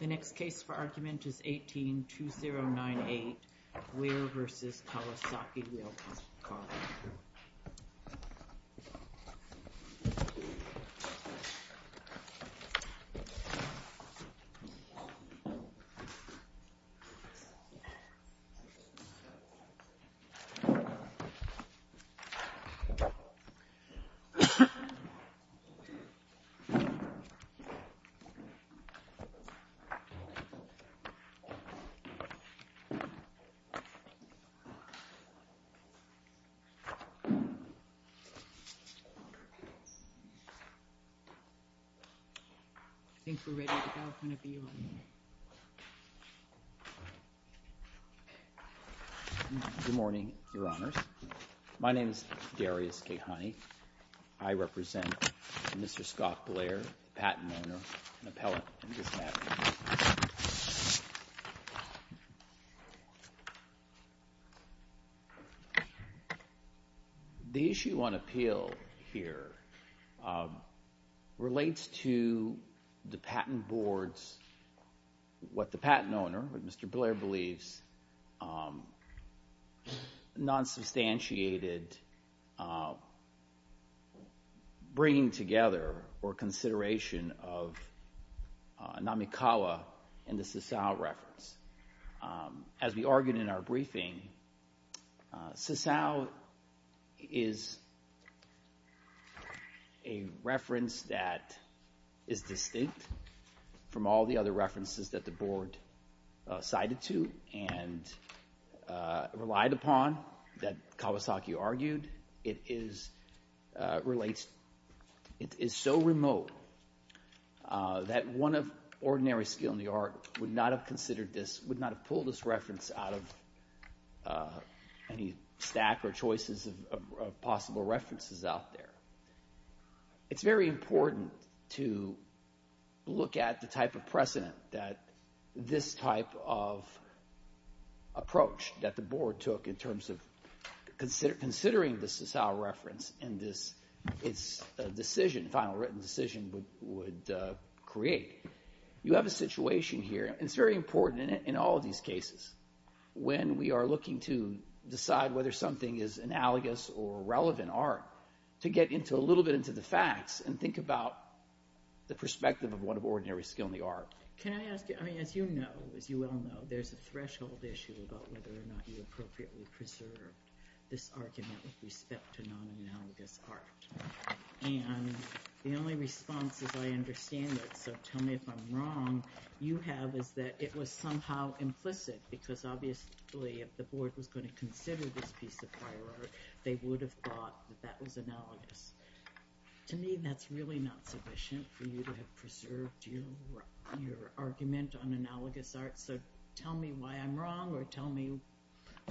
The next case for argument is 18-2098, Guilier v Kowasaki wheeled car. I think we're ready to go, whenever you're ready. Good morning, Your Honors. My name is Darius Kehani. I represent Mr. Scott Blair, the patent owner, an appellate in this matter. The issue on appeal here relates to the patent board's, what the patent owner, Mr. Blair believes, non-substantiated bringing together or consideration of Namikawa and the Sassau reference. As we argued in our briefing, Sassau is a reference that is distinct from all the other two, and relied upon, that Kawasaki argued, it is, relates, it is so remote that one of ordinary skill in the art would not have considered this, would not have pulled this reference out of any stack or choices of possible references out there. It's very important to look at the type of precedent that this type of approach that the board took in terms of considering the Sassau reference in this decision, final written decision would create. You have a situation here, and it's very important in all of these cases, when we are looking to decide whether something is analogous or relevant art, to get a little bit into the facts and think about the perspective of what of ordinary skill in the art. Can I ask you, as you know, as you well know, there's a threshold issue about whether or not you appropriately preserved this argument with respect to non-analogous art. The only response is I understand it, so tell me if I'm wrong, you have, is that it was somehow implicit because obviously if the board was going to consider this piece of prior art, they would have thought that that was analogous. To me, that's really not sufficient for you to have preserved your argument on analogous art, so tell me why I'm wrong or tell me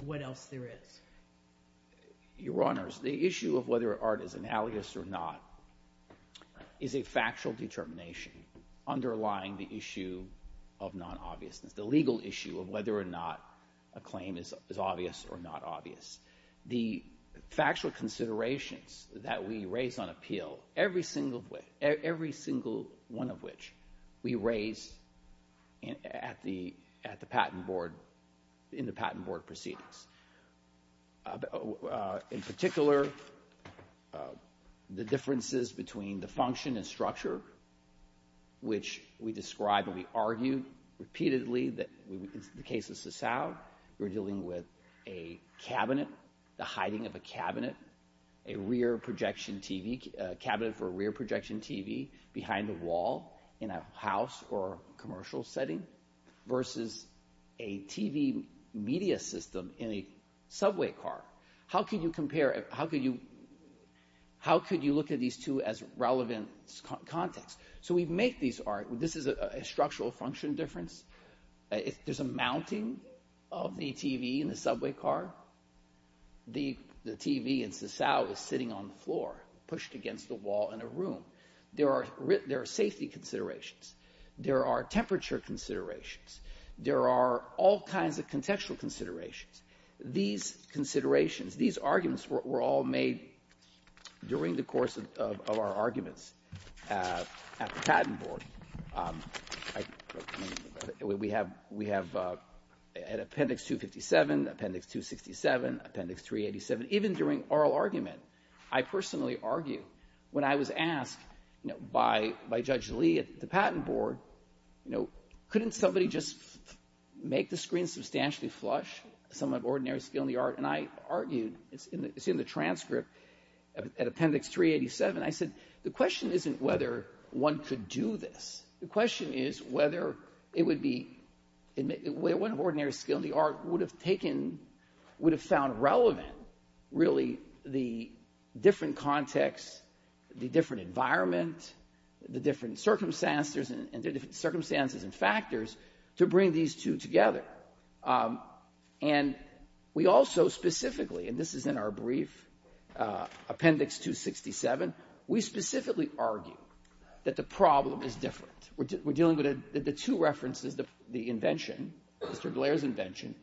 what else there is. Your Honors, the issue of whether art is analogous or not is a factual determination underlying the issue of non-obviousness, the legal issue of whether or not a claim is obvious or not obvious. The factual considerations that we raise on appeal, every single one of which we raise at the patent board, in the patent board proceedings. In particular, the differences between the function and structure, which we describe and we argue repeatedly that in the case of Sassau, we're dealing with a cabinet, the hiding of a cabinet, a rear projection TV, a cabinet for a rear projection TV behind a wall in a house or in a subway car. How could you compare, how could you look at these two as relevant context? So we make these art, this is a structural function difference. There's a mounting of the TV in the subway car, the TV in Sassau is sitting on the floor, pushed against the wall in a room. There are safety considerations, there are temperature considerations, there are all kinds of contextual considerations. These considerations, these arguments were all made during the course of our arguments at the patent board. We have appendix 257, appendix 267, appendix 387, even during oral argument. I personally argue, when I was asked by Judge Lee at the patent board, couldn't somebody just make the screen substantially flush, someone of ordinary skill in the art, and I argued, it's in the transcript, at appendix 387, I said, the question isn't whether one could do this. The question is whether it would be, one of ordinary skill in the art would have taken, would have found relevant, really, the different context, the different environment, the different circumstances and factors to bring these two together. And we also specifically, and this is in our brief, appendix 267, we specifically argue that the problem is different. We're dealing with the two references, the invention, Mr. Blair's invention,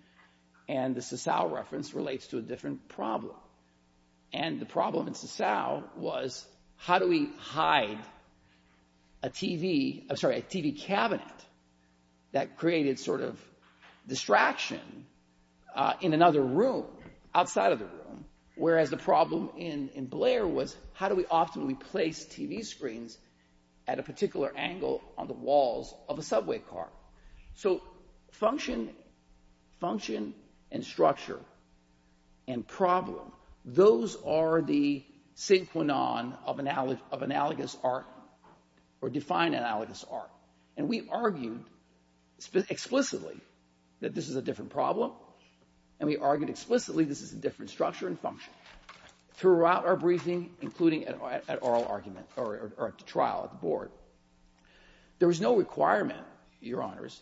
and the Sassau reference relates to a different problem. And the problem in Sassau was how do we hide a TV, I'm sorry, a TV cabinet that created sort of distraction in another room, outside of the room, whereas the problem in Blair was how do we often replace TV screens at a particular angle on the walls of a subway car. So function and structure and problem, those are the synchronon of analogous art or defined analogous art. And we argued explicitly that this is a different problem, and we argued explicitly this is a different structure and function. Throughout our briefing, including at oral argument, or at the trial at the board, there was no requirement, Your Honors,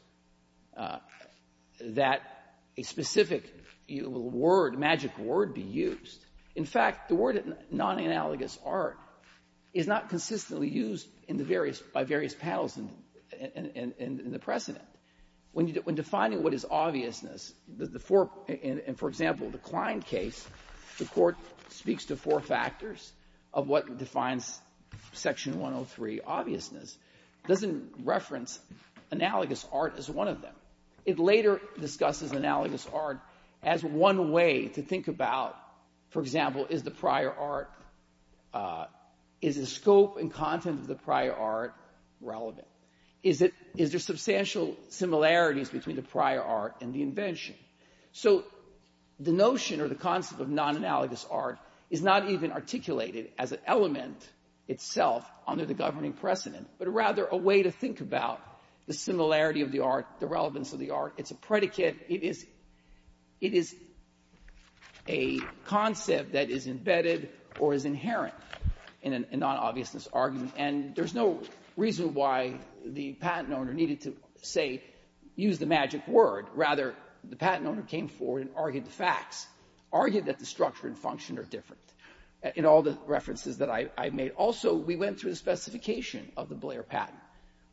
that a specific word, magic word, be used. In fact, the word non-analogous art is not consistently used in the various by various panels in the precedent. When defining what is obviousness, the four, and for example, the Klein case, the Court speaks to four factors of what defines Section 103, obviousness. It doesn't reference analogous art as one of them. It later discusses analogous art as one way to think about, for example, is the prior art, is the scope and content of the prior art relevant? Is there substantial similarities between the prior art and the invention? So the notion or the concept of non-analogous art is not even articulated as an element itself under the governing precedent, but rather a way to think about the similarity of the art, the relevance of the art. It's a predicate. It is a concept that is embedded or is inherent in a non-obviousness argument. And there's no reason why the patent owner needed to, say, use the magic word. Rather, the patent owner came forward and argued the facts, argued that the structure and function are different in all the references that I made. Also, we went through the specification of the Blair patent.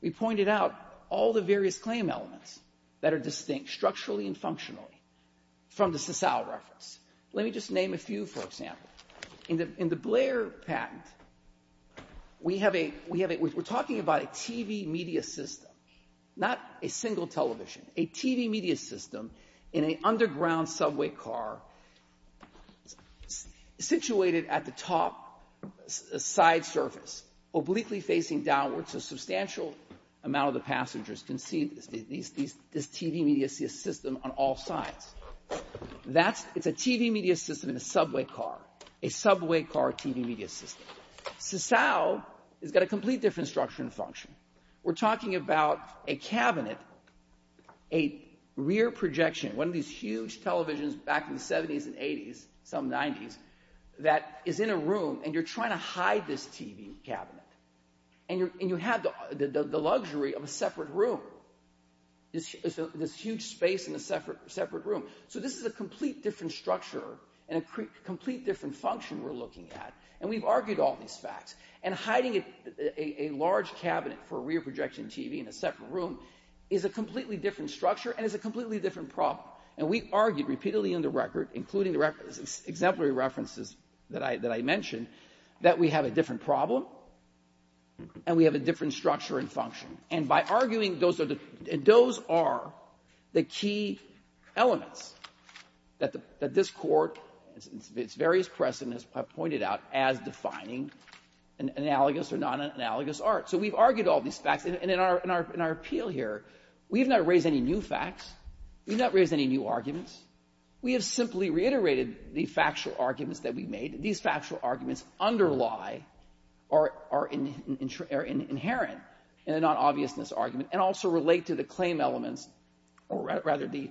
We pointed out all the various claim elements that are distinct structurally and functionally from the Sassau reference. Let me just name a few, for example. In the Blair patent, we have a we have a we're talking about a TV media system, not a single television, a TV media system in an underground subway car situated at the top side surface, obliquely facing downwards, so a substantial amount of the passengers can see this TV media system on all sides. It's a TV media system in a subway car, a subway car TV media system. Sassau has got a complete different structure and function. We're talking about a cabinet, a rear projection, one of these huge televisions back in the 70s and 80s, some 90s, that is in a room, and you're trying to hide this TV cabinet. And you have the luxury of a separate room, this huge space in a separate room. So this is a complete different structure and a complete different function we're looking at. And we've argued all these facts. And hiding a large cabinet for a rear projection TV in a separate room is a completely different structure and is a completely different problem. And we've argued repeatedly in the record, including the exemplary references that I mentioned, that we have a different problem and we have a different structure and function. And by arguing those are the key elements that this Court, its various precedents, has pointed out as defining an analogous or non-analogous art. So we've argued all these facts. And in our appeal here, we've not raised any new facts. We've not raised any new arguments. We have simply reiterated the factual arguments that we've made. These factual arguments underlie or are inherent in the non-obviousness argument and also relate to the claim elements, or rather the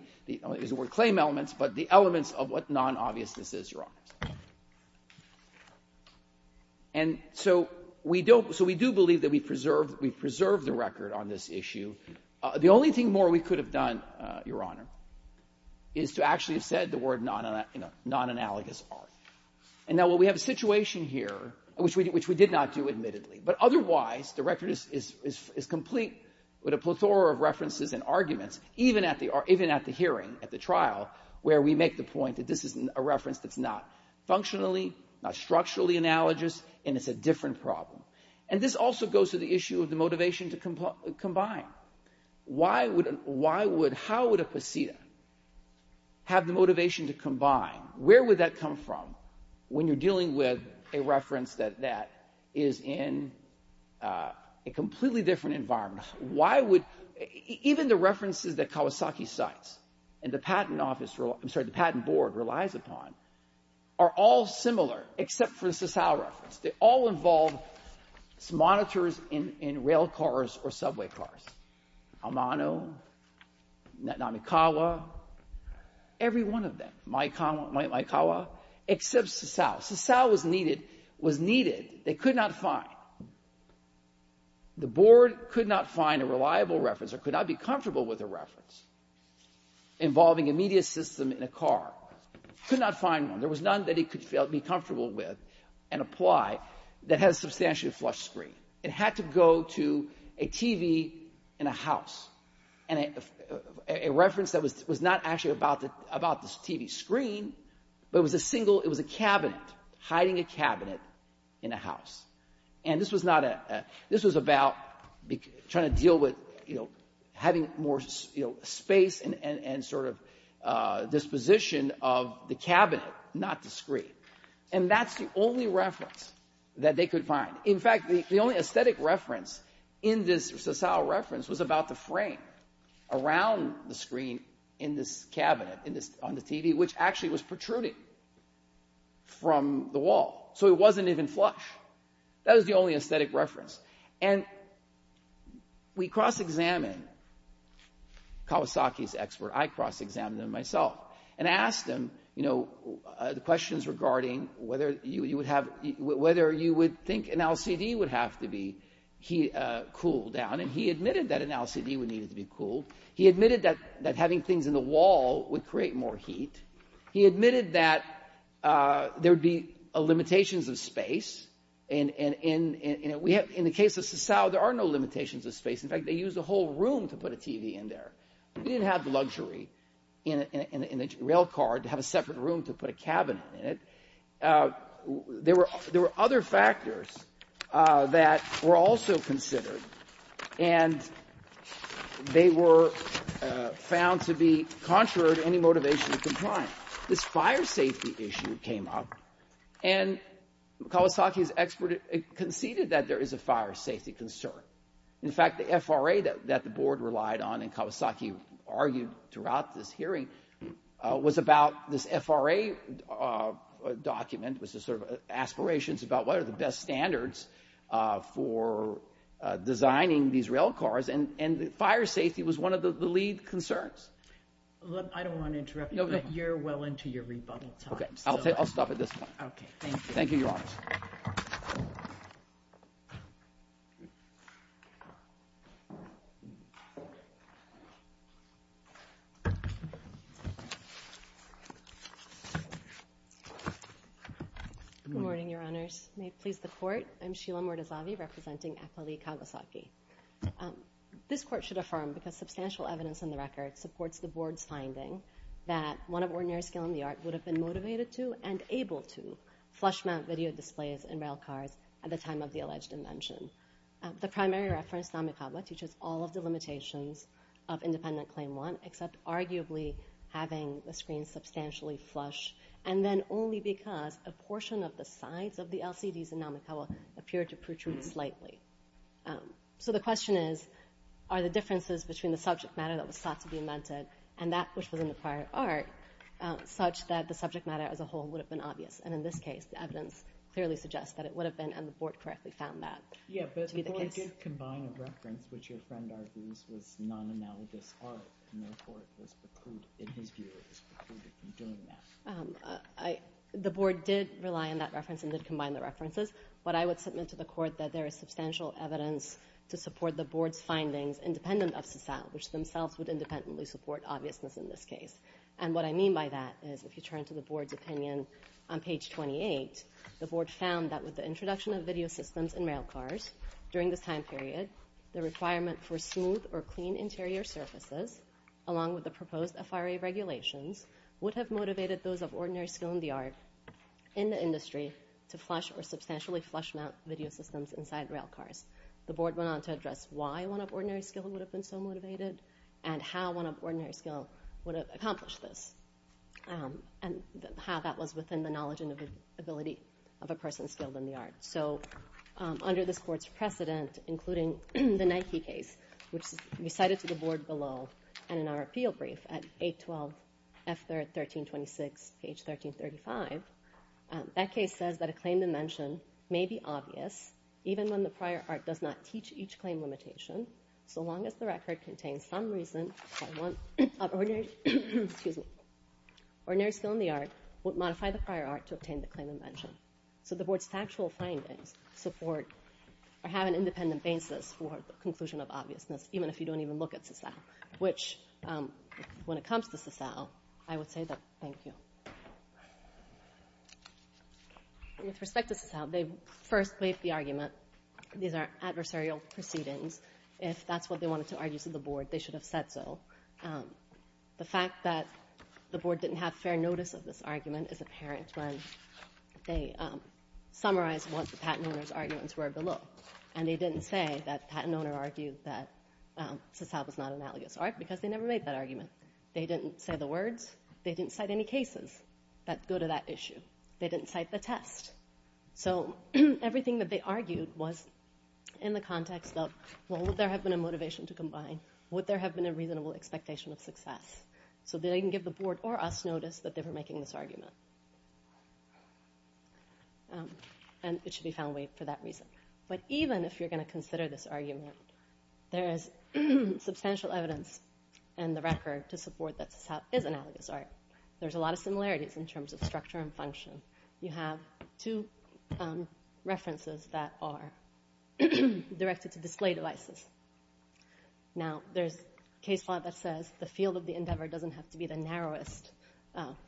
claim elements, but the elements of what non-obviousness is, Your Honor. And so we do believe that we've preserved the record on this issue. The only thing more we could have done, Your Honor, is to actually have said the word non-analogous art. And now what we have a situation here, which we did not do admittedly, but otherwise the record is complete with a plethora of references and arguments, even at the hearing, at the trial, where we make the point that this is a reference that's not functionally, not structurally analogous, and it's a different problem. And this also goes to the issue of the motivation to combine. How would a pasita have the motivation to combine? Where would that come from when you're dealing with a reference that is in a completely different environment? Even the references that Kawasaki cites and the patent board relies upon are all similar except for the Sasau reference. They all involve monitors in rail cars or subway cars, Amano, Namikawa, every one of them, Maekawa, except Sasau. Sasau was needed. They could not find. The board could not find a reliable reference or could not be comfortable with a reference involving a media system in a car. Could not find one. There was none that it could be comfortable with and apply that had a substantially flush screen. It had to go to a TV in a house, a reference that was not actually about the TV screen, but it was a cabinet, hiding a cabinet in a house. And this was about trying to deal with having more space and sort of disposition of the cabinet, not the screen. And that's the only reference that they could find. In fact, the only aesthetic reference in this Sasau reference was about the frame around the screen in this cabinet on the TV, which actually was protruding from the wall. So it wasn't even flush. That was the only aesthetic reference. And we cross-examined Kawasaki's expert. I cross-examined him myself and asked him, you know, the questions regarding whether you would have, whether you would think an LCD would have to be cooled down. And he admitted that an LCD would need to be cooled. He admitted that having things in the wall would create more heat. He admitted that there would be limitations of space. And in the case of Sasau, there are no limitations of space. In fact, they used a whole room to put a TV in there. We didn't have the luxury in a rail car to have a separate room to put a cabinet in it. There were other factors that were also considered, and they were found to be contrary to any motivation to comply. This fire safety issue came up, and Kawasaki's expert conceded that there is a fire safety concern. In fact, the FRA that the board relied on, and Kawasaki argued throughout this hearing, was about this FRA document, was this sort of aspirations about what are the best standards for designing these rail cars, and fire safety was one of the lead concerns. I don't want to interrupt you, but you're well into your rebuttal time. Okay, I'll stop at this point. Thank you, Your Honors. Good morning, Your Honors. May it please the Court. I'm Sheila Murtazavi, representing Attali Kawasaki. This Court should affirm, because substantial evidence in the record supports the board's finding, that one of ordinary skill in the art would have been motivated to and able to flush-mount video displays in rail cars at the time of the alleged invention. The primary reference, Namikawa, teaches all of the limitations of Independent Claim 1, except arguably having the screen substantially flush, and then only because a portion of the sides of the LCDs in Namikawa appear to protrude slightly. So the question is, are the differences between the subject matter that was thought to be invented, and that which was in the prior art, such that the subject matter as a whole would have been obvious? And in this case, the evidence clearly suggests that it would have been, and the board correctly found that to be the case. Yeah, but the board did combine a reference which your friend argues was non-analogous art, and therefore it was precluded, in his view, it was precluded from doing that. The board did rely on that reference and did combine the references, but I would submit to the court that there is substantial evidence to support the board's findings independent of CECEL, which themselves would independently support obviousness in this case. And what I mean by that is, if you turn to the board's opinion on page 28, the board found that with the introduction of video systems in rail cars during this time period, the requirement for smooth or clean interior surfaces, along with the proposed FRA regulations, would have motivated those of ordinary skill in the art, in the industry, to flush or substantially flush mount video systems inside rail cars. The board went on to address why one of ordinary skill would have been so motivated, and how one of ordinary skill would have accomplished this, and how that was within the knowledge and ability of a person skilled in the art. So under this board's precedent, including the Nike case, which we cited to the board below, and in our appeal brief at 812F1326, page 1335, that case says that a claim to mention may be obvious, even when the prior art does not teach each claim limitation, so long as the record contains some reason that one of ordinary skill in the art would modify the prior art to obtain the claim of mention. So the board's factual findings support or have an independent basis for the conclusion of obviousness, even if you don't even look at CICEL, which when it comes to CICEL, I would say that thank you. With respect to CICEL, they first made the argument these are adversarial proceedings. If that's what they wanted to argue to the board, they should have said so. The fact that the board didn't have fair notice of this argument is apparent when they summarized what the patent owner's arguments were below, and they didn't say that the patent owner argued that CICEL was not an analogous art because they never made that argument. They didn't say the words. They didn't cite any cases that go to that issue. They didn't cite the test. So everything that they argued was in the context of, well, would there have been a motivation to combine? Would there have been a reasonable expectation of success? So they didn't give the board or us notice that they were making this argument, and it should be found weight for that reason. But even if you're going to consider this argument, there is substantial evidence in the record to support that CICEL is analogous art. There's a lot of similarities in terms of structure and function. You have two references that are directed to display devices. Now, there's a case law that says the field of the endeavor doesn't have to be the narrowest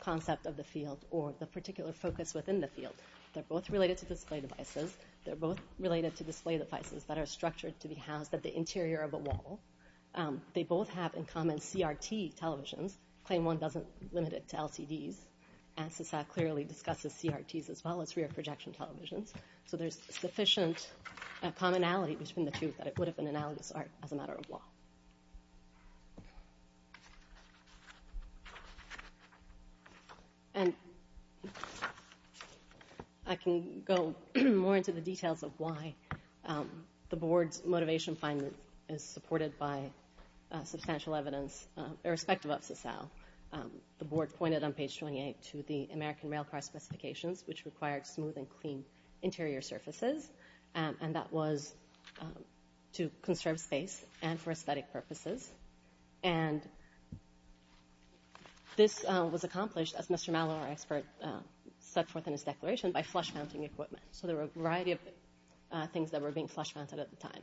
concept of the field. Or the particular focus within the field. They're both related to display devices. They're both related to display devices that are structured to be housed at the interior of a wall. They both have in common CRT televisions. Claim one doesn't limit it to LCDs. ANSYSAC clearly discusses CRTs as well as rear projection televisions. So there's sufficient commonality between the two that it would have been analogous art as a matter of law. And I can go more into the details of why the board's motivation finding is supported by substantial evidence irrespective of CICEL. The board pointed on page 28 to the American Railcar Specifications, which required smooth and clean interior surfaces. And that was to conserve space and for aesthetic purposes. And this was accomplished, as Mr. Mallow, our expert, set forth in his declaration, by flush mounting equipment. So there were a variety of things that were being flush mounted at the time.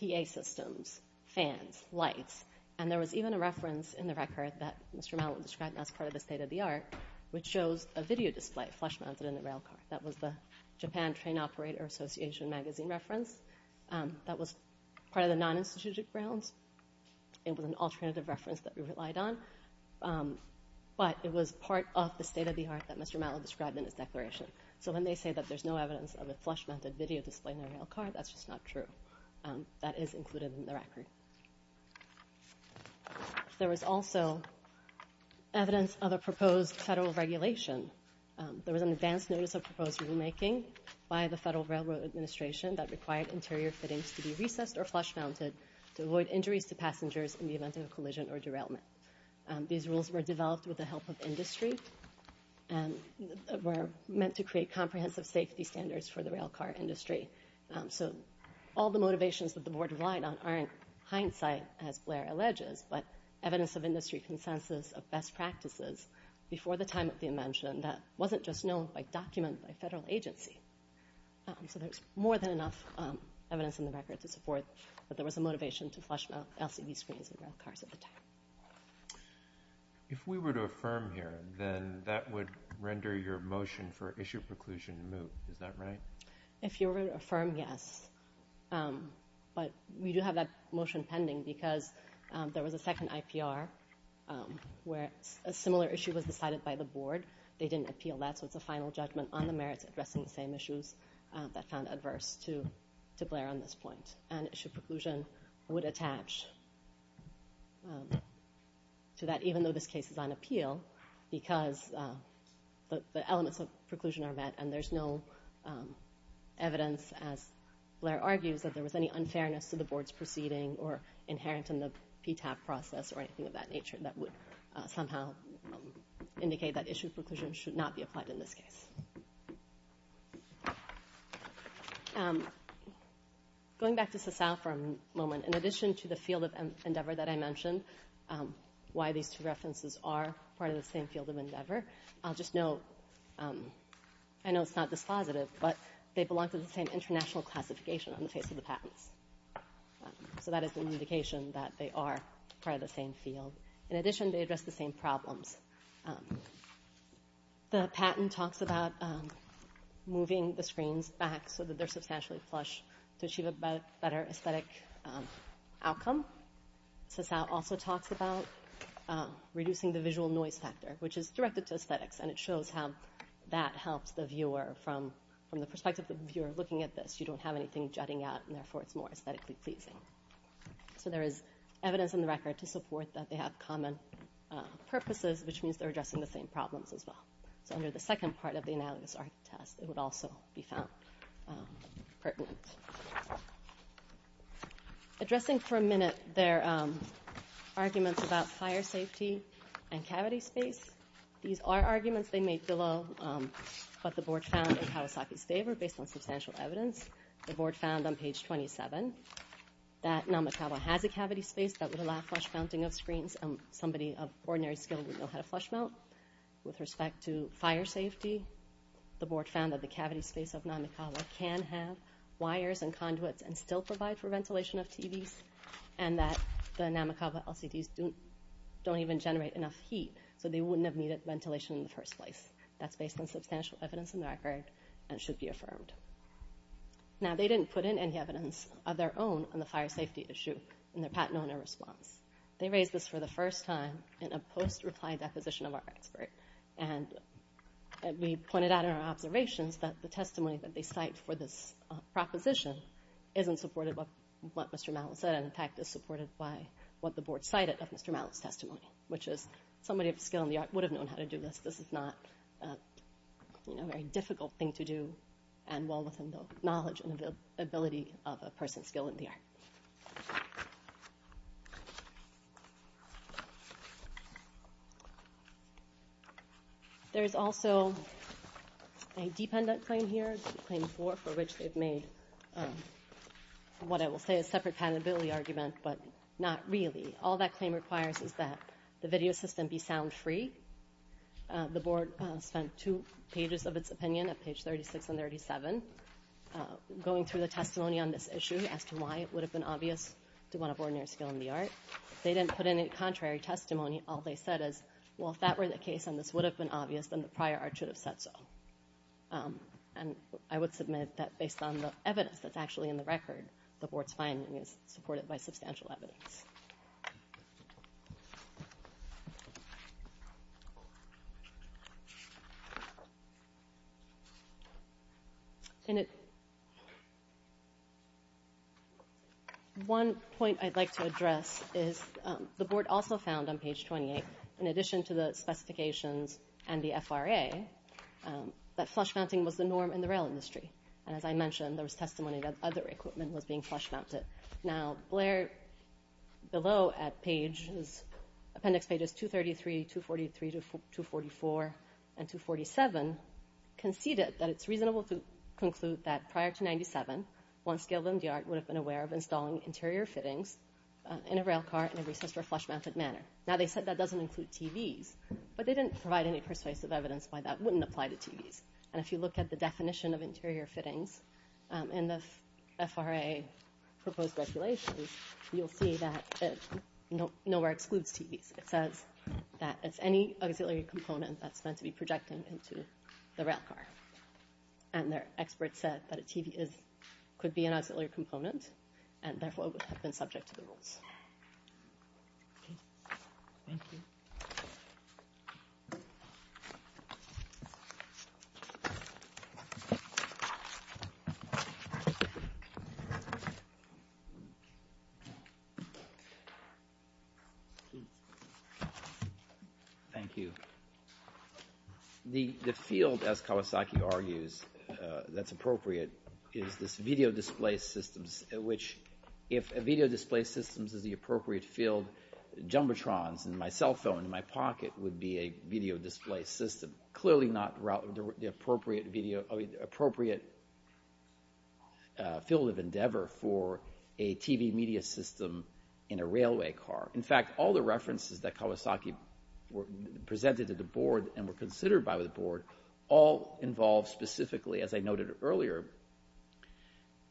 PA systems, fans, lights. And there was even a reference in the record that Mr. Mallow described as part of his state of the art, which shows a video display flush mounted in the railcar. That was the Japan Train Operator Association magazine reference. That was part of the non-institutional grounds. It was an alternative reference that we relied on. But it was part of the state of the art that Mr. Mallow described in his declaration. So when they say that there's no evidence of a flush mounted video display in the railcar, that's just not true. That is included in the record. There was also evidence of a proposed federal regulation. There was an advance notice of proposed rulemaking by the Federal Railroad Administration that required interior fittings to be recessed or flush mounted to avoid injuries to passengers in the event of a collision or derailment. These rules were developed with the help of industry and were meant to create comprehensive safety standards for the railcar industry. So all the motivations that the board relied on aren't hindsight, as Blair alleges, but evidence of industry consensus of best practices before the time of the invention that wasn't just known by document by federal agency. So there's more than enough evidence in the record to support that there was a motivation to flush mount LCD screens in railcars at the time. If we were to affirm here, then that would render your motion for issue preclusion moot. Is that right? If you were to affirm, yes. But we do have that motion pending because there was a second IPR where a similar issue was decided by the board. They didn't appeal that, so it's a final judgment on the merits addressing the same issues that found adverse to Blair on this point. And issue preclusion would attach to that, even though this case is on appeal, because the elements of preclusion are met and there's no evidence, as Blair argues, that there was any unfairness to the board's proceeding or inherent in the PTAB process or anything of that nature that would somehow indicate that issue preclusion should not be applied in this case. Going back to Sassafra for a moment, in addition to the field of endeavor that I mentioned, why these two references are part of the same field of endeavor, I'll just note, I know it's not dispositive, but they belong to the same international classification on the face of the patents. So that is an indication that they are part of the same field. In addition, they address the same problems. The patent talks about moving the screens back so that they're substantially flush to achieve a better aesthetic outcome. Sassafra also talks about reducing the visual noise factor, which is directed to aesthetics, and it shows how that helps the viewer from the perspective of the viewer looking at this. You don't have anything jutting out, and therefore it's more aesthetically pleasing. So there is evidence in the record to support that they have common purposes, which means they're addressing the same problems as well. So under the second part of the analogous argument test, it would also be found pertinent. Addressing for a minute their arguments about fire safety and cavity space, these are arguments they made below what the board found in Kawasaki's favor based on substantial evidence. The board found on page 27 that Namikawa has a cavity space that would allow flush mounting of screens, and somebody of ordinary skill would know how to flush mount. With respect to fire safety, the board found that the cavity space of Namikawa can have wires and conduits and still provide for ventilation of TVs, and that the Namikawa LCDs don't even generate enough heat, so they wouldn't have needed ventilation in the first place. That's based on substantial evidence in the record and should be affirmed. Now they didn't put in any evidence of their own on the fire safety issue in their Pat Nona response. They raised this for the first time in a post-reply deposition of our expert, and we pointed out in our observations that the testimony that they cite for this proposition isn't supportive of what Mr. Mallett said and, in fact, is supported by what the board cited of Mr. Mallett's testimony, which is somebody of skill in the art would have known how to do this. This is not a very difficult thing to do and well within the knowledge and ability of a person of skill in the art. There is also a dependent claim here, a claim for which they've made what I will say is a separate patentability argument, but not really. All that claim requires is that the video system be sound free. The board spent two pages of its opinion at page 36 and 37 going through the testimony on this issue as to why it would have been obvious to want a board member of skill in the art. They didn't put in any contrary testimony. All they said is, well, if that were the case and this would have been obvious, then the prior art should have said so. And I would submit that based on the evidence that's actually in the record, the board's finding is supported by substantial evidence. One point I'd like to address is the board also found on page 28, in addition to the specifications and the FRA, that flush mounting was the norm in the rail industry. And as I mentioned, there was testimony that other equipment was being flush mounted. Now, Blair, below at appendix pages 233, 243, 244, and 247, conceded that it's reasonable to conclude that prior to 97, one skilled MDR would have been aware of installing interior fittings in a rail car in a recessed or flush mounted manner. Now, they said that doesn't include TVs, but they didn't provide any persuasive evidence why that wouldn't apply to TVs. And if you look at the definition of interior fittings, and the FRA proposed regulations, you'll see that it nowhere excludes TVs. It says that it's any auxiliary component that's meant to be projected into the rail car. And their experts said that a TV could be an auxiliary component, and therefore would have been subject to the rules. Okay. Thank you. Thank you. The field, as Kawasaki argues, that's appropriate is this video display systems, which if a video display systems is the appropriate field, jumbotrons in my cell phone in my pocket would be a video display system. Clearly not the appropriate field of endeavor for a TV media system in a railway car. In fact, all the references that Kawasaki presented to the board and were considered by the board all involve specifically, as I noted earlier,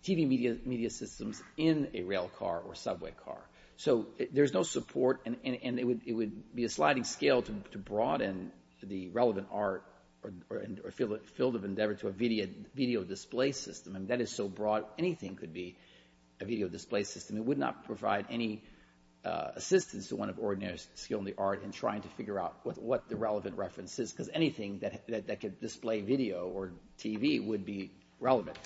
TV media systems in a rail car or subway car. So there's no support, and it would be a sliding scale to broaden the relevant art or field of endeavor to a video display system, and that is so broad anything could be a video display system. It would not provide any assistance to one of ordinary skill in the art in trying to figure out what the relevant reference is, because anything that could display video or TV would be relevant.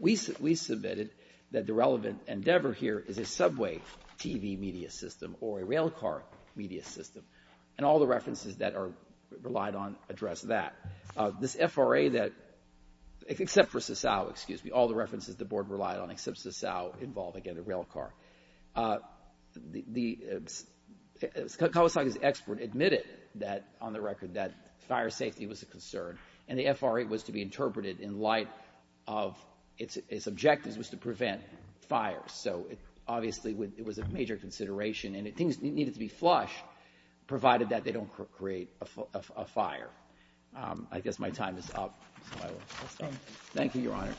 We submitted that the relevant endeavor here is a subway TV media system or a rail car media system, and all the references that are relied on address that. This FRA that, except for Sasao, excuse me, all the references the board relied on except Sasao involve, again, a rail car. Kawasaki's expert admitted that, on the record, that fire safety was a concern, and the FRA was to be interpreted in light of its objectives was to prevent fires. So obviously it was a major consideration, and things needed to be flush, provided that they don't create a fire. I guess my time is up, so I will stop. Thank you, Your Honor.